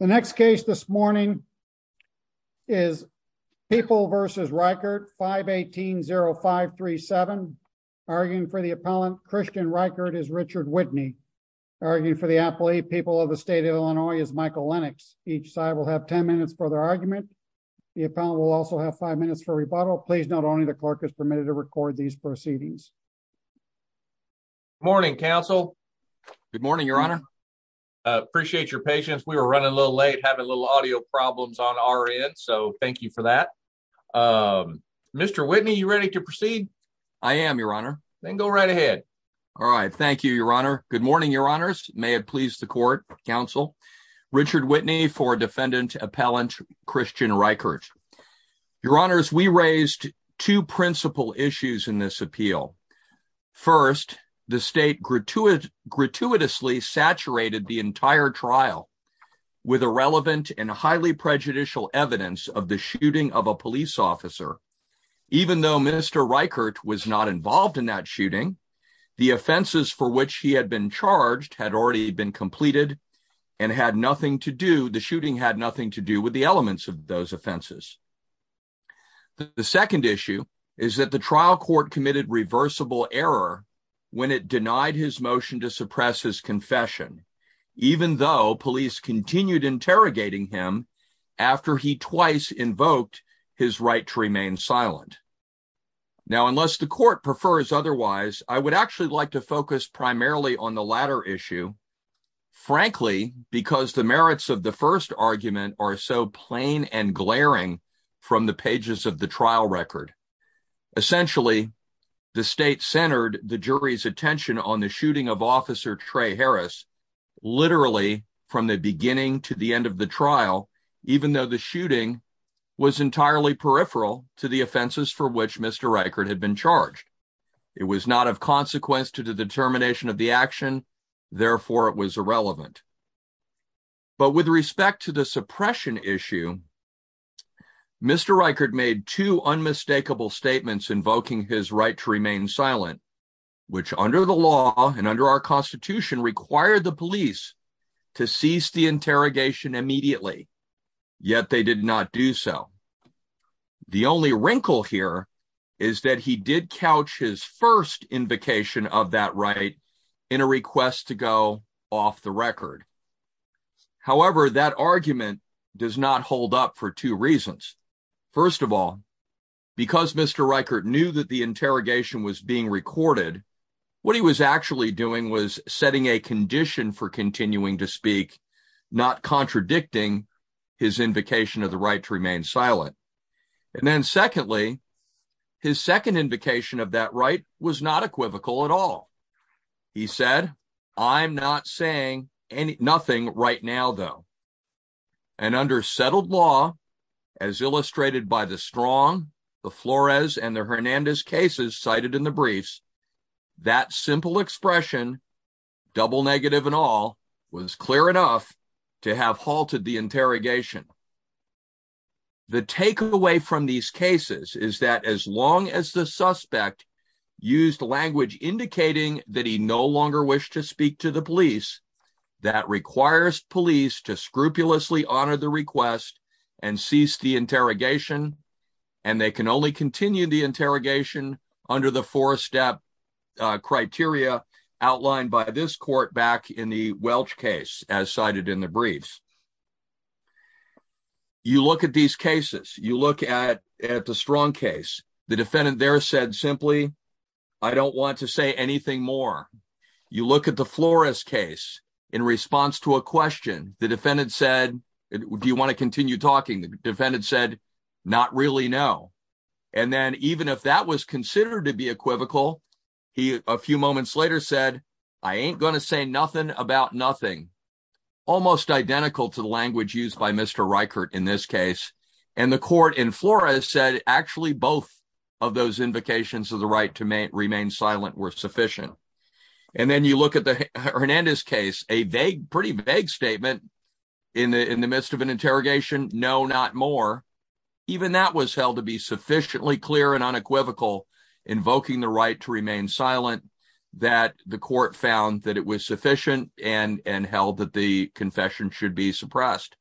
The next case this morning is People v. Reichert, 518-0537. Arguing for the appellant, Christian Reichert, is Richard Whitney. Arguing for the appellate, People of the State of Illinois, is Michael Lennox. Each side will have 10 minutes for their argument. The appellant will also have 5 minutes for rebuttal. Please note only the clerk is permitted to record these proceedings. Good morning, counsel. Good morning, your honor. Appreciate your patience. We were running a little late, having a little audio problems on our end, so thank you for that. Mr. Whitney, are you ready to proceed? I am, your honor. Then go right ahead. All right. Thank you, your honor. Good morning, your honors. May it please the court, counsel. Richard Whitney for defendant appellant, Christian Reichert. Your honors, we raised two principal issues in this appeal. First, the state gratuitously saturated the entire trial with irrelevant and highly prejudicial evidence of the shooting of a police officer. Even though Mr. Reichert was not involved in that shooting, the offenses for which he had been charged had already been completed and had nothing to do, the shooting had nothing to do with the elements of those offenses. The second issue is that the trial court committed reversible error when it denied his motion to suppress his confession, even though police continued interrogating him after he twice invoked his right to remain silent. Now, unless the court prefers otherwise, I would actually like to focus primarily on the latter issue, frankly, because the merits of the from the pages of the trial record. Essentially, the state centered the jury's attention on the shooting of officer Trey Harris, literally from the beginning to the end of the trial, even though the shooting was entirely peripheral to the offenses for which Mr. Reichert had been charged. It was not of consequence to the determination of the action. Therefore, it was irrelevant. But with respect to the suppression issue, Mr. Reichert made two unmistakable statements invoking his right to remain silent, which under the law and under our constitution required the police to cease the interrogation immediately, yet they did not do so. The only wrinkle here is that he did couch his first invocation of that right in a request to go off the record. However, that argument does not hold up for two reasons. First of all, because Mr. Reichert knew that the interrogation was being recorded, what he was actually doing was setting a condition for continuing to speak, not contradicting his invocation of the right to remain silent. And then secondly, his second invocation of that right was not equivocal at all. He said, I'm not saying anything right now, though. And under settled law, as illustrated by the strong, the Flores and the Hernandez cases cited in the briefs, that simple expression, double negative and all, was clear enough to have halted the interrogation. The takeaway from these cases is that as long as the suspect used language indicating that he no longer wished to speak to the police, that requires police to scrupulously honor the request and cease the interrogation, and they can only continue the interrogation under the four-step criteria outlined by this court back in the Welch case, as cited in the briefs. You look at these cases. You look at the strong case. The defendant there said simply, I don't want to say anything more. You look at the Flores case. In response to a question, the defendant said, do you want to continue talking? The defendant said, not really, no. And then even if that was considered to be equivocal, he a few moments later said, I ain't going to say nothing about nothing. Almost identical to the language used by Mr. Reichert in this case. And the court in Flores said actually both of those invocations of the right to remain silent were sufficient. And then you look at the Hernandez case, a vague, pretty vague statement in the midst of an interrogation, no, not more. Even that was held to be sufficiently clear and unequivocal, invoking the right to remain silent, that the court found that it was sufficient and held that the confession should be suppressed.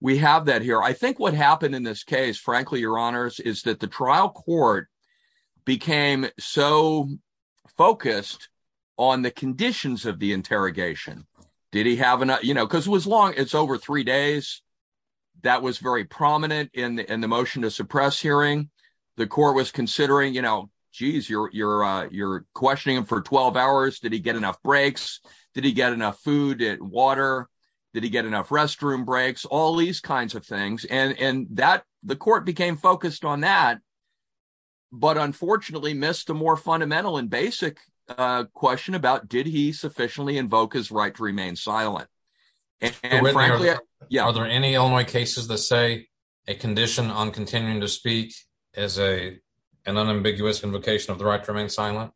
We have that here. I think what happened in this case, frankly, your honors, is that the trial court became so focused on the conditions of the interrogation. Did he have enough, you know, because it was long, it's over three days. That was very prominent in the motion to suppress hearing. The court was considering, you know, geez, you're questioning him for 12 hours. Did he get enough breaks? Did he get enough food and water? Did he get enough restroom breaks? All these kinds of things. And the court became focused on that, but unfortunately missed the more fundamental and basic question about did he sufficiently invoke his right to remain silent? And frankly, are there any Illinois cases that say a condition on continuing to speak is an unambiguous invocation of the right to remain silent?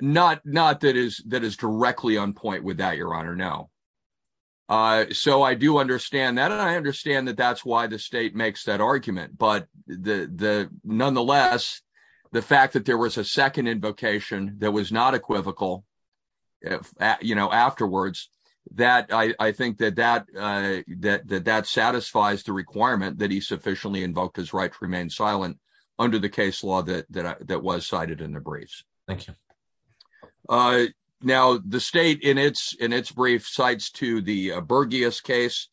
Not that is directly on point with that, your honor, no. So I do understand that. And I understand that that's why the state makes that argument. But nonetheless, the fact that there was a second invocation that was not equivocal, you know, afterwards, that I think that that satisfies the requirement that he sufficiently invoked his right to remain silent under the case law that was cited in the briefs. Thank you. Now, the state in its brief cites to the Berghias case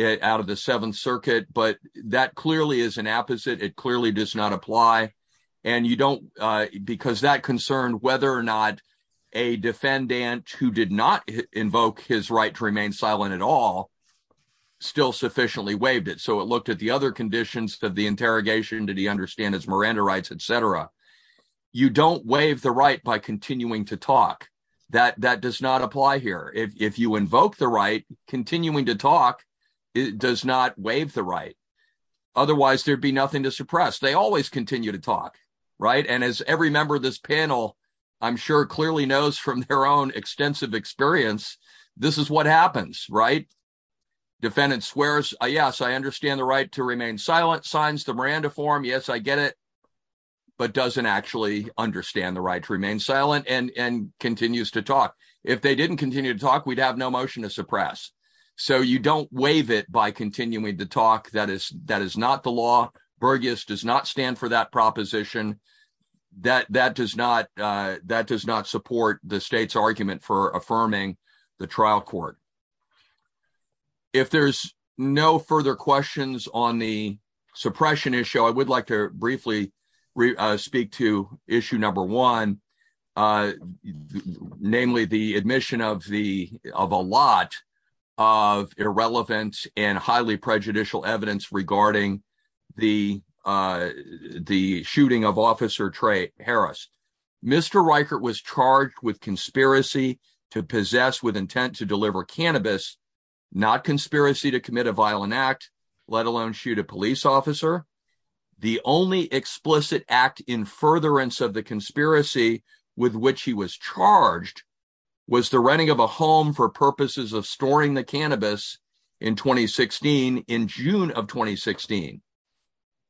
out of the Seventh Circuit, but that clearly is an apposite. It clearly does not apply. And you don't because that concerned whether or not a defendant who did not invoke his right to remain silent at all still sufficiently waived it. So it looked at the other conditions of the interrogation. Did he understand his Miranda rights, et cetera? You don't waive the right by continuing to talk that that does not apply here. If you invoke the right, continuing to talk, it does not waive the right. Otherwise, there'd be nothing to suppress. They always continue to talk, right? And as every member of this panel, I'm sure clearly knows from their own extensive experience, this is what happens, right? Defendant swears, yes, I understand the right to remain silent, signs the Miranda form. Yes, I get it. But doesn't actually understand the right to remain silent and continues to talk. If they didn't continue to talk, we'd have no motion to suppress. So you don't waive it by continuing to talk. That is not the law. Burgess does not stand for that proposition. That does not support the state's argument for affirming the trial court. If there's no further questions on the suppression issue, I would like to briefly speak to issue number one, namely the admission of a lot of irrelevant and highly prejudicial evidence regarding the shooting of officer Trey Harris. Mr. Reichert was charged with conspiracy to possess with intent to deliver cannabis, not conspiracy to commit a violent act, let alone shoot a police officer. The only explicit act in furtherance of the conspiracy with which he was charged was the renting of a home for purposes of storing the cannabis in 2016, in June of 2016.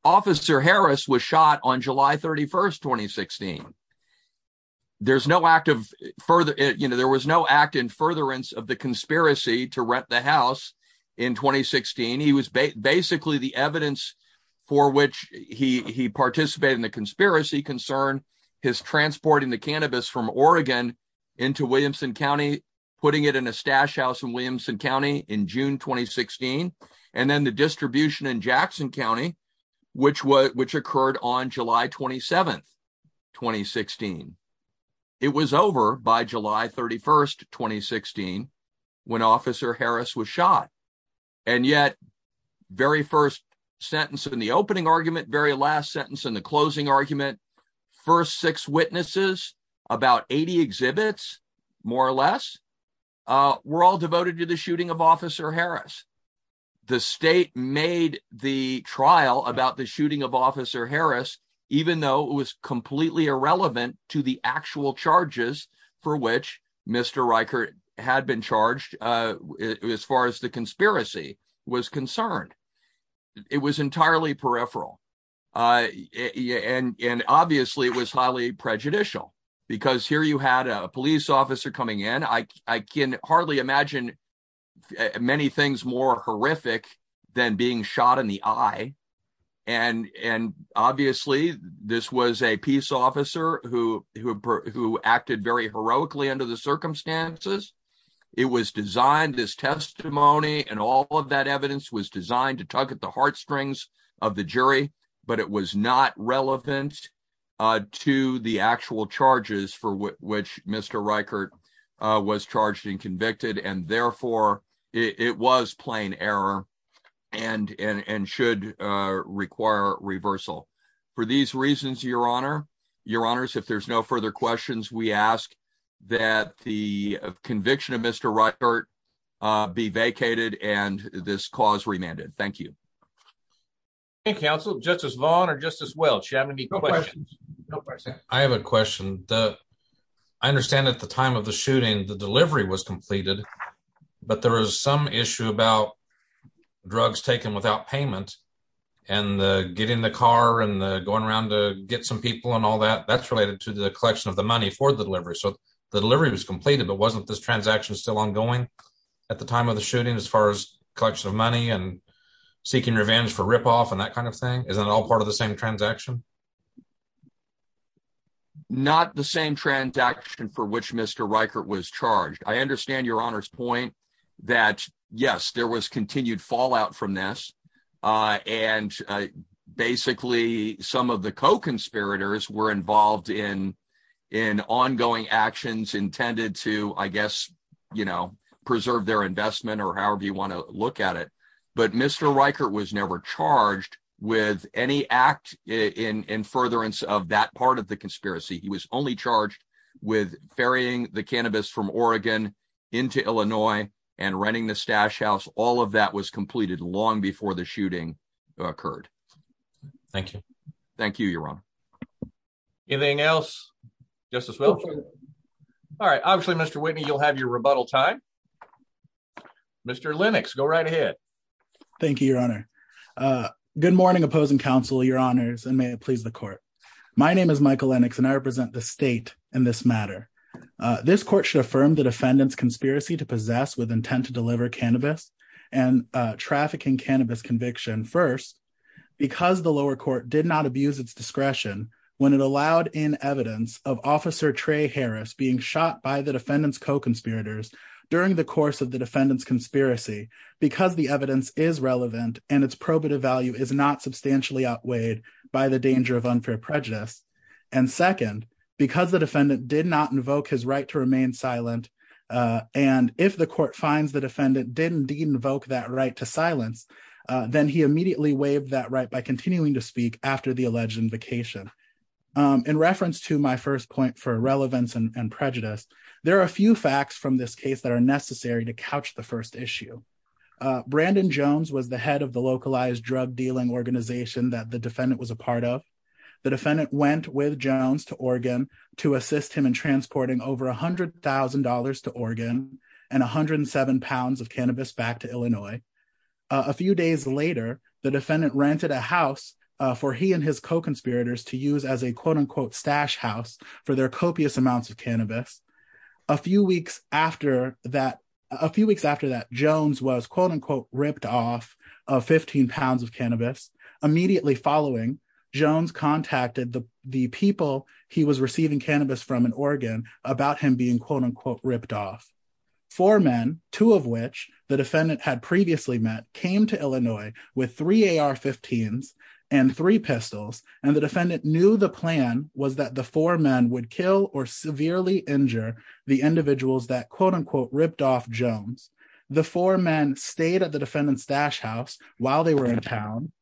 Officer Harris was shot on July 31st, 2016. There's no act of further, you know, there was no act in furtherance of the conspiracy to rent the house in 2016. He was basically the evidence for which he participated in the conspiracy concern, his transporting the cannabis from Oregon into Williamson County, putting it in a stash house in Williamson County in June, 2016. And then the distribution in Jackson County, which occurred on July 27th, 2016. It was over by July 31st, 2016, when officer Harris was shot. And yet, very first sentence in the opening argument, very last sentence in the closing argument, first six witnesses, about 80 exhibits, more or less, were all devoted to the shooting of Officer Harris, even though it was completely irrelevant to the actual charges for which Mr. Riker had been charged, as far as the conspiracy was concerned. It was entirely peripheral. And obviously, it was highly prejudicial, because here you had a police officer coming in, I can hardly imagine many things more horrific than being shot in the eye. And obviously, this was a peace officer who acted very heroically under the circumstances. It was designed, this testimony and all of that evidence was designed to tug at the heartstrings of the jury, but it was not relevant to the actual charges for which Mr. Riker had been convicted. And therefore, it was plain error and should require reversal. For these reasons, Your Honor, Your Honors, if there's no further questions, we ask that the conviction of Mr. Riker be vacated and this cause remanded. Thank you. Thank you, Counsel. Justice Vaughn or Justice Welch, do you have any questions? I have a question. I understand at the time of the shooting, the delivery was completed, but there was some issue about drugs taken without payment and getting the car and going around to get some people and all that. That's related to the collection of the money for the delivery. So the delivery was completed, but wasn't this transaction still ongoing at the time of the shooting as far as collection of money and seeking revenge for ripoff and that kind of thing? Isn't it all part of the same transaction? Not the same transaction for which Mr. Riker was charged. I understand Your Honor's point that, yes, there was continued fallout from this. And basically, some of the co-conspirators were involved in ongoing actions intended to, I guess, preserve their investment or however you want to that part of the conspiracy. He was only charged with ferrying the cannabis from Oregon into Illinois and renting the stash house. All of that was completed long before the shooting occurred. Thank you. Thank you, Your Honor. Anything else, Justice Welch? All right. Obviously, Mr. Whitney, you'll have your rebuttal time. Mr. Lennox, go right ahead. Thank you, Your Honor. Good morning, opposing counsel, Your Honors, and may it please the court. My name is Michael Lennox, and I represent the state in this matter. This court should affirm the defendant's conspiracy to possess with intent to deliver cannabis and trafficking cannabis conviction, first, because the lower court did not abuse its discretion when it allowed in evidence of Officer Trey Harris being shot by the defendant's co-conspirators during the course of the defendant's conspiracy because the evidence is relevant and its probative value is not substantially outweighed by the danger of unfair prejudice, and second, because the defendant did not invoke his right to remain silent, and if the court finds the defendant did indeed invoke that right to silence, then he immediately waived that right by continuing to speak after the alleged invocation. In reference to my first point for relevance and prejudice, there are a few facts from this case that are necessary to couch the first issue. Brandon Jones was the head of the localized drug dealing organization that the defendant was a part of. The defendant went with Jones to Oregon to assist him in transporting over $100,000 to Oregon and 107 pounds of cannabis back to Illinois. A few days later, the defendant rented a house for he and his co-conspirators to use as a stash house for their copious amounts of cannabis. A few weeks after that, Jones was ripped off of 15 pounds of cannabis. Immediately following, Jones contacted the people he was receiving cannabis from in Oregon about him being ripped off. Four men, two of which the defendant had previously met, came to Illinois with three AR-15s and three pistols, and the defendant knew the plan was that the four men would kill or severely injure the individuals that quote-unquote ripped off Jones. The four men stayed at the defendant's stash house while they were in town.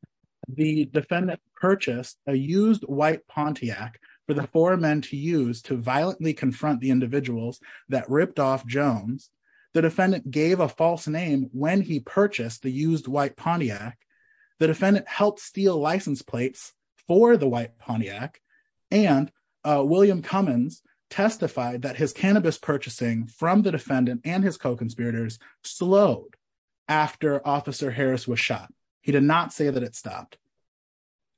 The defendant purchased a used white Pontiac for the four men to use to violently confront the individuals that ripped off Jones. The defendant gave a false name when he purchased the used white Pontiac. The defendant helped steal license plates for the white Pontiac, and William Cummins testified that his cannabis purchasing from the defendant and his co-conspirators slowed after Officer Harris was shot. He did not say that it stopped.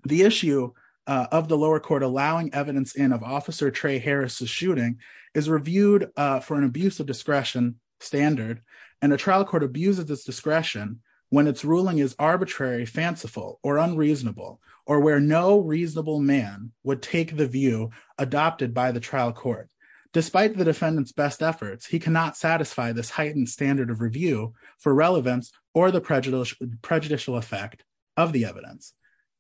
The issue of the lower court allowing evidence in of Officer Trey Harris's shooting is reviewed for an abuse of discretion standard, and a trial court abuses its discretion when its ruling is arbitrary, fanciful, or unreasonable, or where no reasonable man would take the view adopted by the trial court. Despite the defendant's best efforts, he cannot satisfy this heightened standard of review for relevance or the prejudicial effect of the evidence.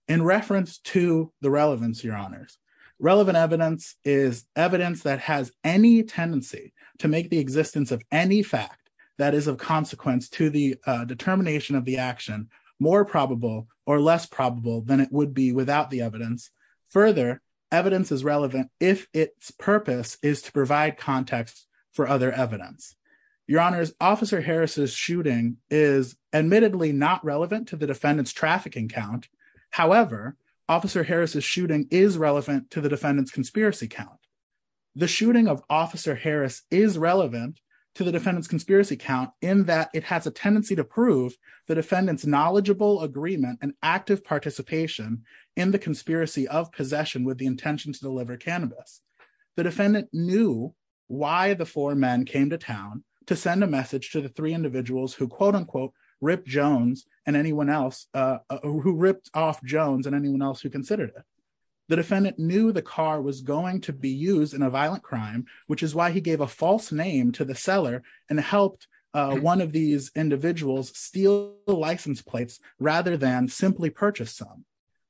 In reference to the relevance, your honors, relevant evidence is evidence that has any tendency to make the existence of any fact that is of consequence to the determination of the action more probable or less probable than it would be without the evidence. Further, evidence is relevant if its purpose is to provide context for other evidence. Your honors, Officer Harris's However, Officer Harris's shooting is relevant to the defendant's conspiracy count. The shooting of Officer Harris is relevant to the defendant's conspiracy count in that it has a tendency to prove the defendant's knowledgeable agreement and active participation in the conspiracy of possession with the intention to deliver cannabis. The defendant knew why the four men came to town to send a message to the three individuals who, quote-unquote, ripped off Jones and anyone else who considered it. The defendant knew the car was going to be used in a violent crime, which is why he gave a false name to the seller and helped one of these individuals steal the license plates rather than simply purchase some.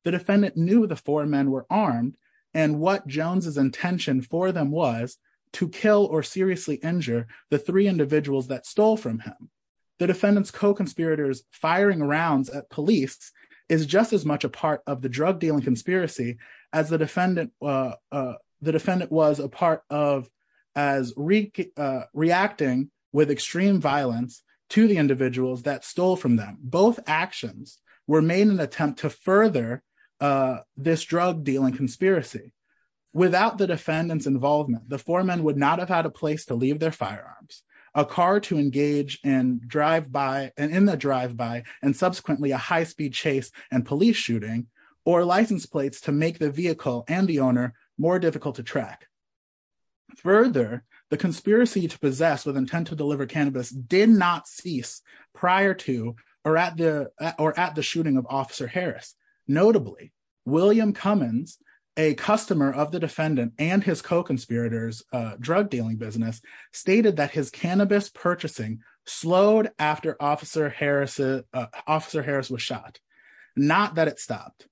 The defendant knew the four men were armed and what Jones's intention for them was to kill or seriously injure the three firing rounds at police is just as much a part of the drug dealing conspiracy as the defendant was a part of as reacting with extreme violence to the individuals that stole from them. Both actions were made in an attempt to further this drug dealing conspiracy. Without the defendant's involvement, the four men would not have had a place to leave their firearms, a car to engage in drive-by and in the drive-by and subsequently a high-speed chase and police shooting, or license plates to make the vehicle and the owner more difficult to track. Further, the conspiracy to possess with intent to deliver cannabis did not cease prior to or at the or at the shooting of Officer Harris. Notably, William Cummins, a customer of the defendant and his co-conspirators drug dealing business, stated that his cannabis purchasing slowed after Officer Harris was shot, not that it stopped.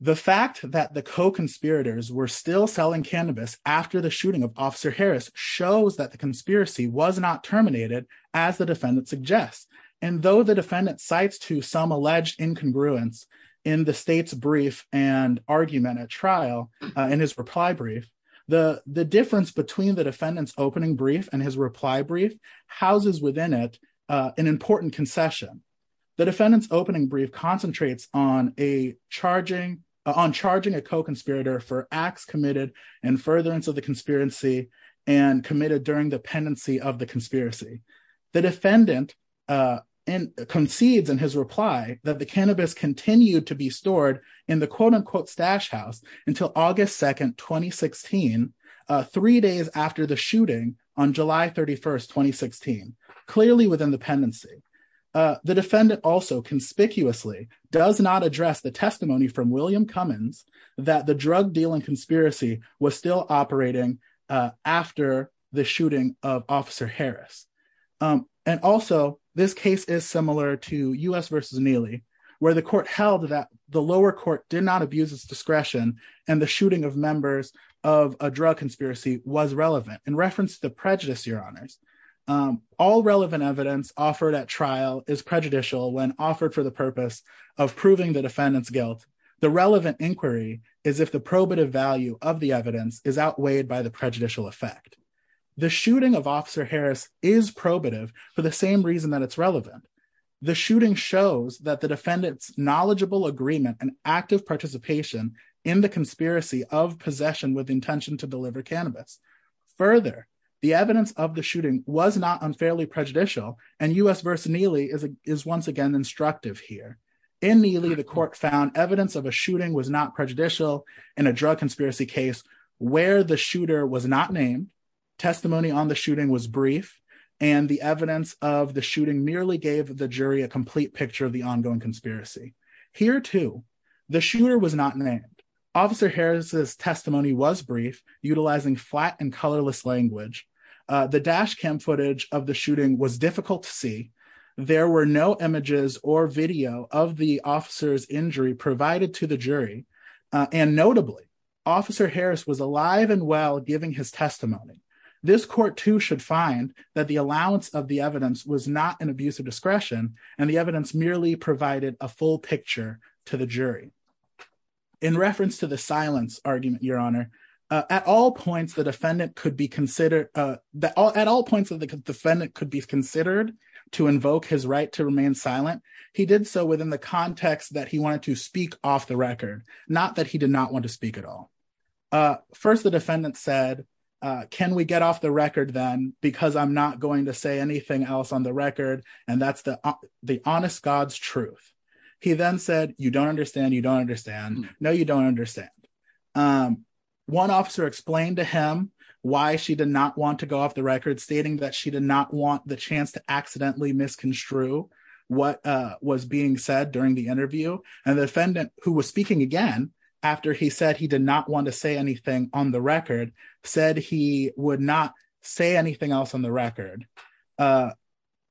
The fact that the co-conspirators were still selling cannabis after the shooting of Officer Harris shows that the conspiracy was not terminated as the defendant suggests. And though the defendant cites to some alleged incongruence in the state's brief and argument at trial in his reply brief, the difference between the defendant's opening brief and his reply brief houses within it an important concession. The defendant's opening brief concentrates on a charging, on charging a co-conspirator for acts committed in furtherance of the conspiracy and committed during the pendency of the conspiracy. The defendant concedes in his reply that the cannabis continued to be stored in the quote-unquote stash house until August 2nd, 2016, three days after the shooting on July 31st, 2016, clearly within the pendency. The defendant also conspicuously does not address the testimony from William Cummins that the drug dealing conspiracy was still operating after the and also this case is similar to U.S. v. Neely where the court held that the lower court did not abuse its discretion and the shooting of members of a drug conspiracy was relevant in reference to prejudice, your honors. All relevant evidence offered at trial is prejudicial when offered for the purpose of proving the defendant's guilt. The relevant inquiry is if the probative value of the evidence is outweighed by the prejudicial effect. The shooting of Officer for the same reason that it's relevant. The shooting shows that the defendant's knowledgeable agreement and active participation in the conspiracy of possession with intention to deliver cannabis. Further, the evidence of the shooting was not unfairly prejudicial and U.S. v. Neely is once again instructive here. In Neely, the court found evidence of a shooting was not prejudicial in a drug conspiracy case where the shooter was not named, testimony on the shooting was brief, and the evidence of the shooting merely gave the jury a complete picture of the ongoing conspiracy. Here, too, the shooter was not named. Officer Harris's testimony was brief, utilizing flat and colorless language. The dash cam footage of the shooting was difficult to see. There were no images or video of the officer's injury provided to the jury, and notably, Officer Harris was alive and well giving his testimony. This court, too, should find that the allowance of the evidence was not an abuse of discretion and the evidence merely provided a full picture to the jury. In reference to the silence argument, Your Honor, at all points the defendant could be considered, at all points of the defendant could be considered to invoke his right to remain silent, he did so within the context that he wanted to speak off the record, not that he did not want to speak at all. First, the defendant said, can we get off the record then, because I'm not going to say anything else on the record, and that's the honest God's truth. He then said, you don't understand, you don't understand, no, you don't understand. One officer explained to him why she did not want to go off the record, stating that she did not want the chance to accidentally misconstrue what was being said during the interview, and the defendant, who was speaking again after he said he did not want to say anything on the record, said he would not say anything else on the record.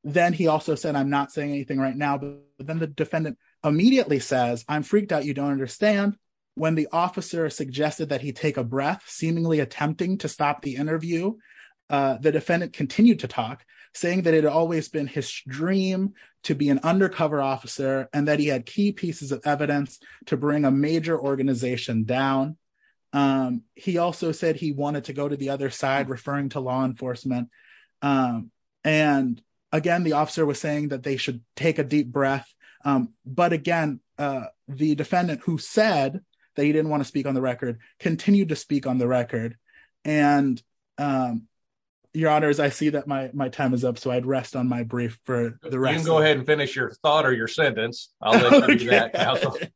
Then he also said, I'm not saying anything right now, but then the defendant immediately says, I'm freaked out, you don't understand. When the officer suggested that he take a breath, seemingly attempting to stop the interview, the defendant continued to talk, saying that it had always been his dream to be an undercover officer and that he had key pieces of the major organization down. He also said he wanted to go to the other side, referring to law enforcement, and again, the officer was saying that they should take a deep breath, but again, the defendant, who said that he didn't want to speak on the record, continued to speak on the record, and your honors, I see that my time is up, so I'd rest on my brief for the rest. Go ahead and finish your thought or your sentence. The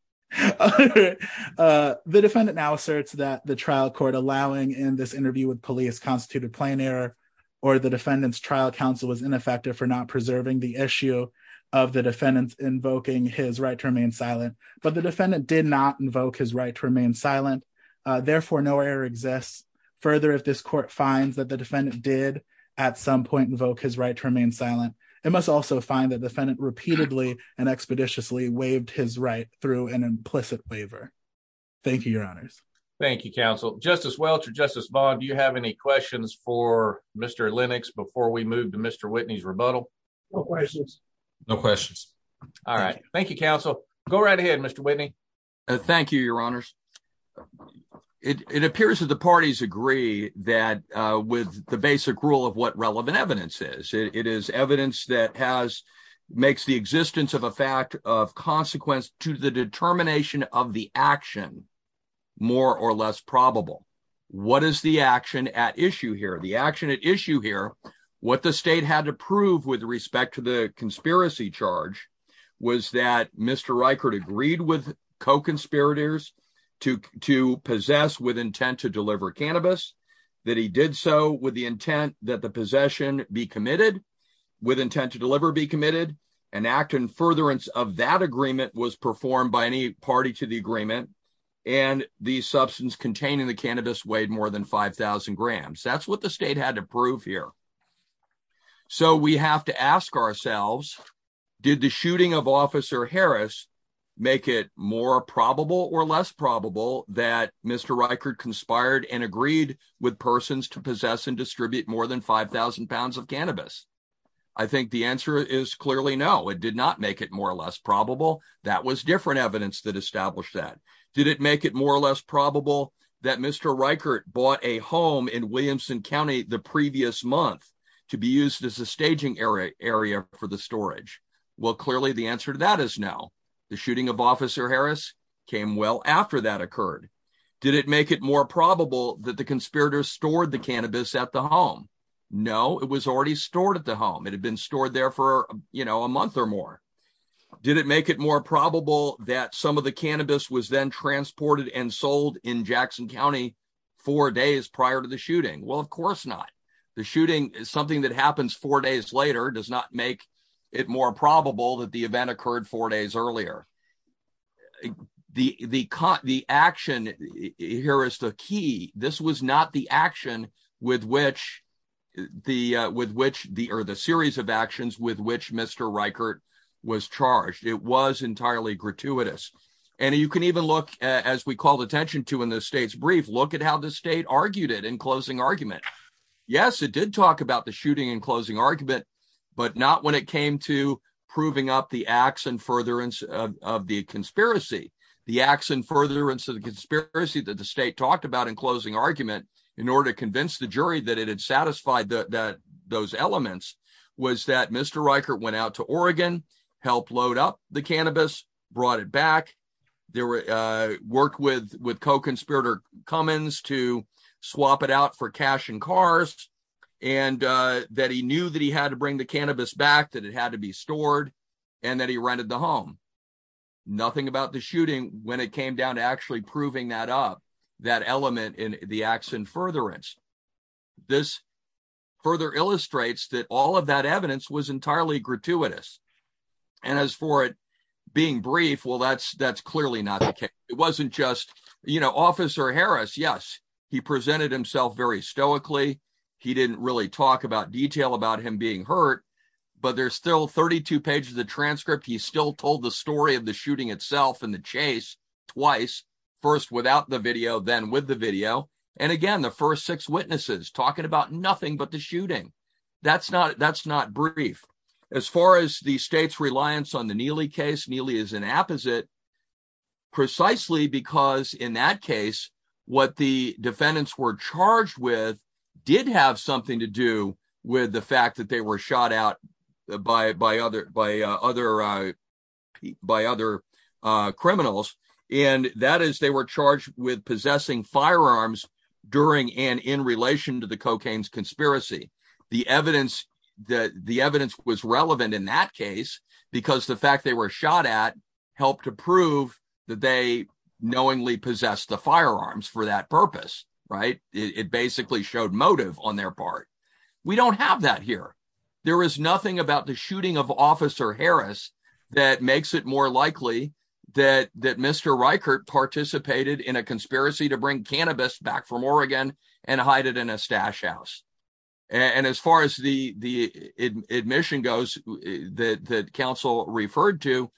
defendant now asserts that the trial court, allowing in this interview with police, constituted plain error, or the defendant's trial counsel was ineffective for not preserving the issue of the defendant's invoking his right to remain silent, but the defendant did not invoke his right to remain silent, therefore no error exists. Further, if this court finds that the defendant repeatedly and expeditiously waived his right through an implicit waiver. Thank you, your honors. Thank you, counsel. Justice Welch or Justice Vaughn, do you have any questions for Mr. Lennox before we move to Mr. Whitney's rebuttal? No questions. No questions. All right, thank you, counsel. Go right ahead, Mr. Whitney. Thank you, your honors. It appears that the makes the existence of a fact of consequence to the determination of the action more or less probable. What is the action at issue here? The action at issue here, what the state had to prove with respect to the conspiracy charge was that Mr. Reichert agreed with co-conspirators to possess with intent to deliver cannabis, that he did so with the intent that the possession be committed. An act in furtherance of that agreement was performed by any party to the agreement and the substance containing the cannabis weighed more than 5,000 grams. That's what the state had to prove here. So we have to ask ourselves, did the shooting of Officer Harris make it more probable or less probable that Mr. Reichert conspired and agreed with persons to possess and distribute more than 5,000 pounds of cannabis? I think the answer is clearly no. It did not make it more or less probable. That was different evidence that established that. Did it make it more or less probable that Mr. Reichert bought a home in Williamson County the previous month to be used as a staging area for the storage? Well, clearly the answer to that is no. The shooting of Officer Harris came well after that occurred. Did it make it more probable that the conspirators stored the home? No, it was already stored at the home. It had been stored there for, you know, a month or more. Did it make it more probable that some of the cannabis was then transported and sold in Jackson County four days prior to the shooting? Well, of course not. The shooting is something that happens four days later, does not make it more probable that the event occurred four days earlier. The action here is the key. This was not the action with which the series of actions with which Mr. Reichert was charged. It was entirely gratuitous. And you can even look, as we called attention to in the state's brief, look at how the state argued it in closing argument. Yes, it did talk about the shooting in closing argument, but not when it came to proving up the acts and furtherance of the conspiracy. The acts and furtherance of the conspiracy that the state talked about in closing argument, in order to convince the jury that it had satisfied those elements, was that Mr. Reichert went out to Oregon, helped load up the cannabis, brought it back, worked with co-conspirator Cummins to that he knew that he had to bring the cannabis back, that it had to be stored, and that he rented the home. Nothing about the shooting when it came down to actually proving that up, that element in the acts and furtherance. This further illustrates that all of that evidence was entirely gratuitous. And as for it being brief, well, that's clearly not the case. It wasn't just, you know, Officer Harris, yes, he presented himself very stoically. He didn't really talk about detail about him being hurt, but there's still 32 pages of the transcript. He still told the story of the shooting itself and the chase twice, first without the video, then with the video. And again, the first six witnesses talking about nothing but the shooting. That's not brief. As far as the state's reliance on the Neely case, Neely is an apposite, precisely because in that case, what the defendants were charged with did have something to do with the fact that they were shot out by other criminals. And that is they were charged with possessing firearms during and in relation to the cocaine's conspiracy. The evidence was knowingly possessed the firearms for that purpose, right? It basically showed motive on their part. We don't have that here. There is nothing about the shooting of Officer Harris that makes it more likely that Mr. Reichert participated in a conspiracy to bring cannabis back from Oregon and hide it in a stash house. And as far as the admission goes that counsel referred to,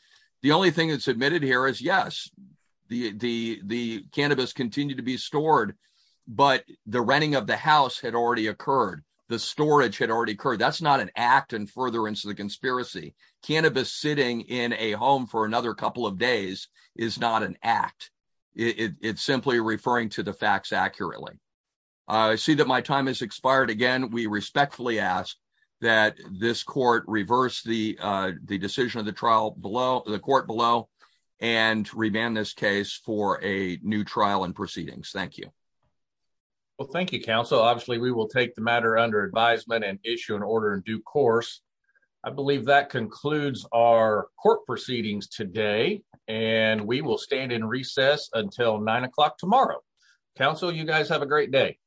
the only thing that's admitted here is, yes, the cannabis continued to be stored, but the renting of the house had already occurred. The storage had already occurred. That's not an act in furtherance of the conspiracy. Cannabis sitting in a home for another couple of days is not an act. It's simply referring to the facts accurately. I see that my time has expired again. We respectfully ask that this court reverse the decision of the court below and remand this case for a new trial and proceedings. Thank you. Well, thank you, counsel. Obviously, we will take the matter under advisement and issue an order in due course. I believe that concludes our court proceedings today, and we will stand in recess until nine o'clock tomorrow. Counsel, you guys have a great day.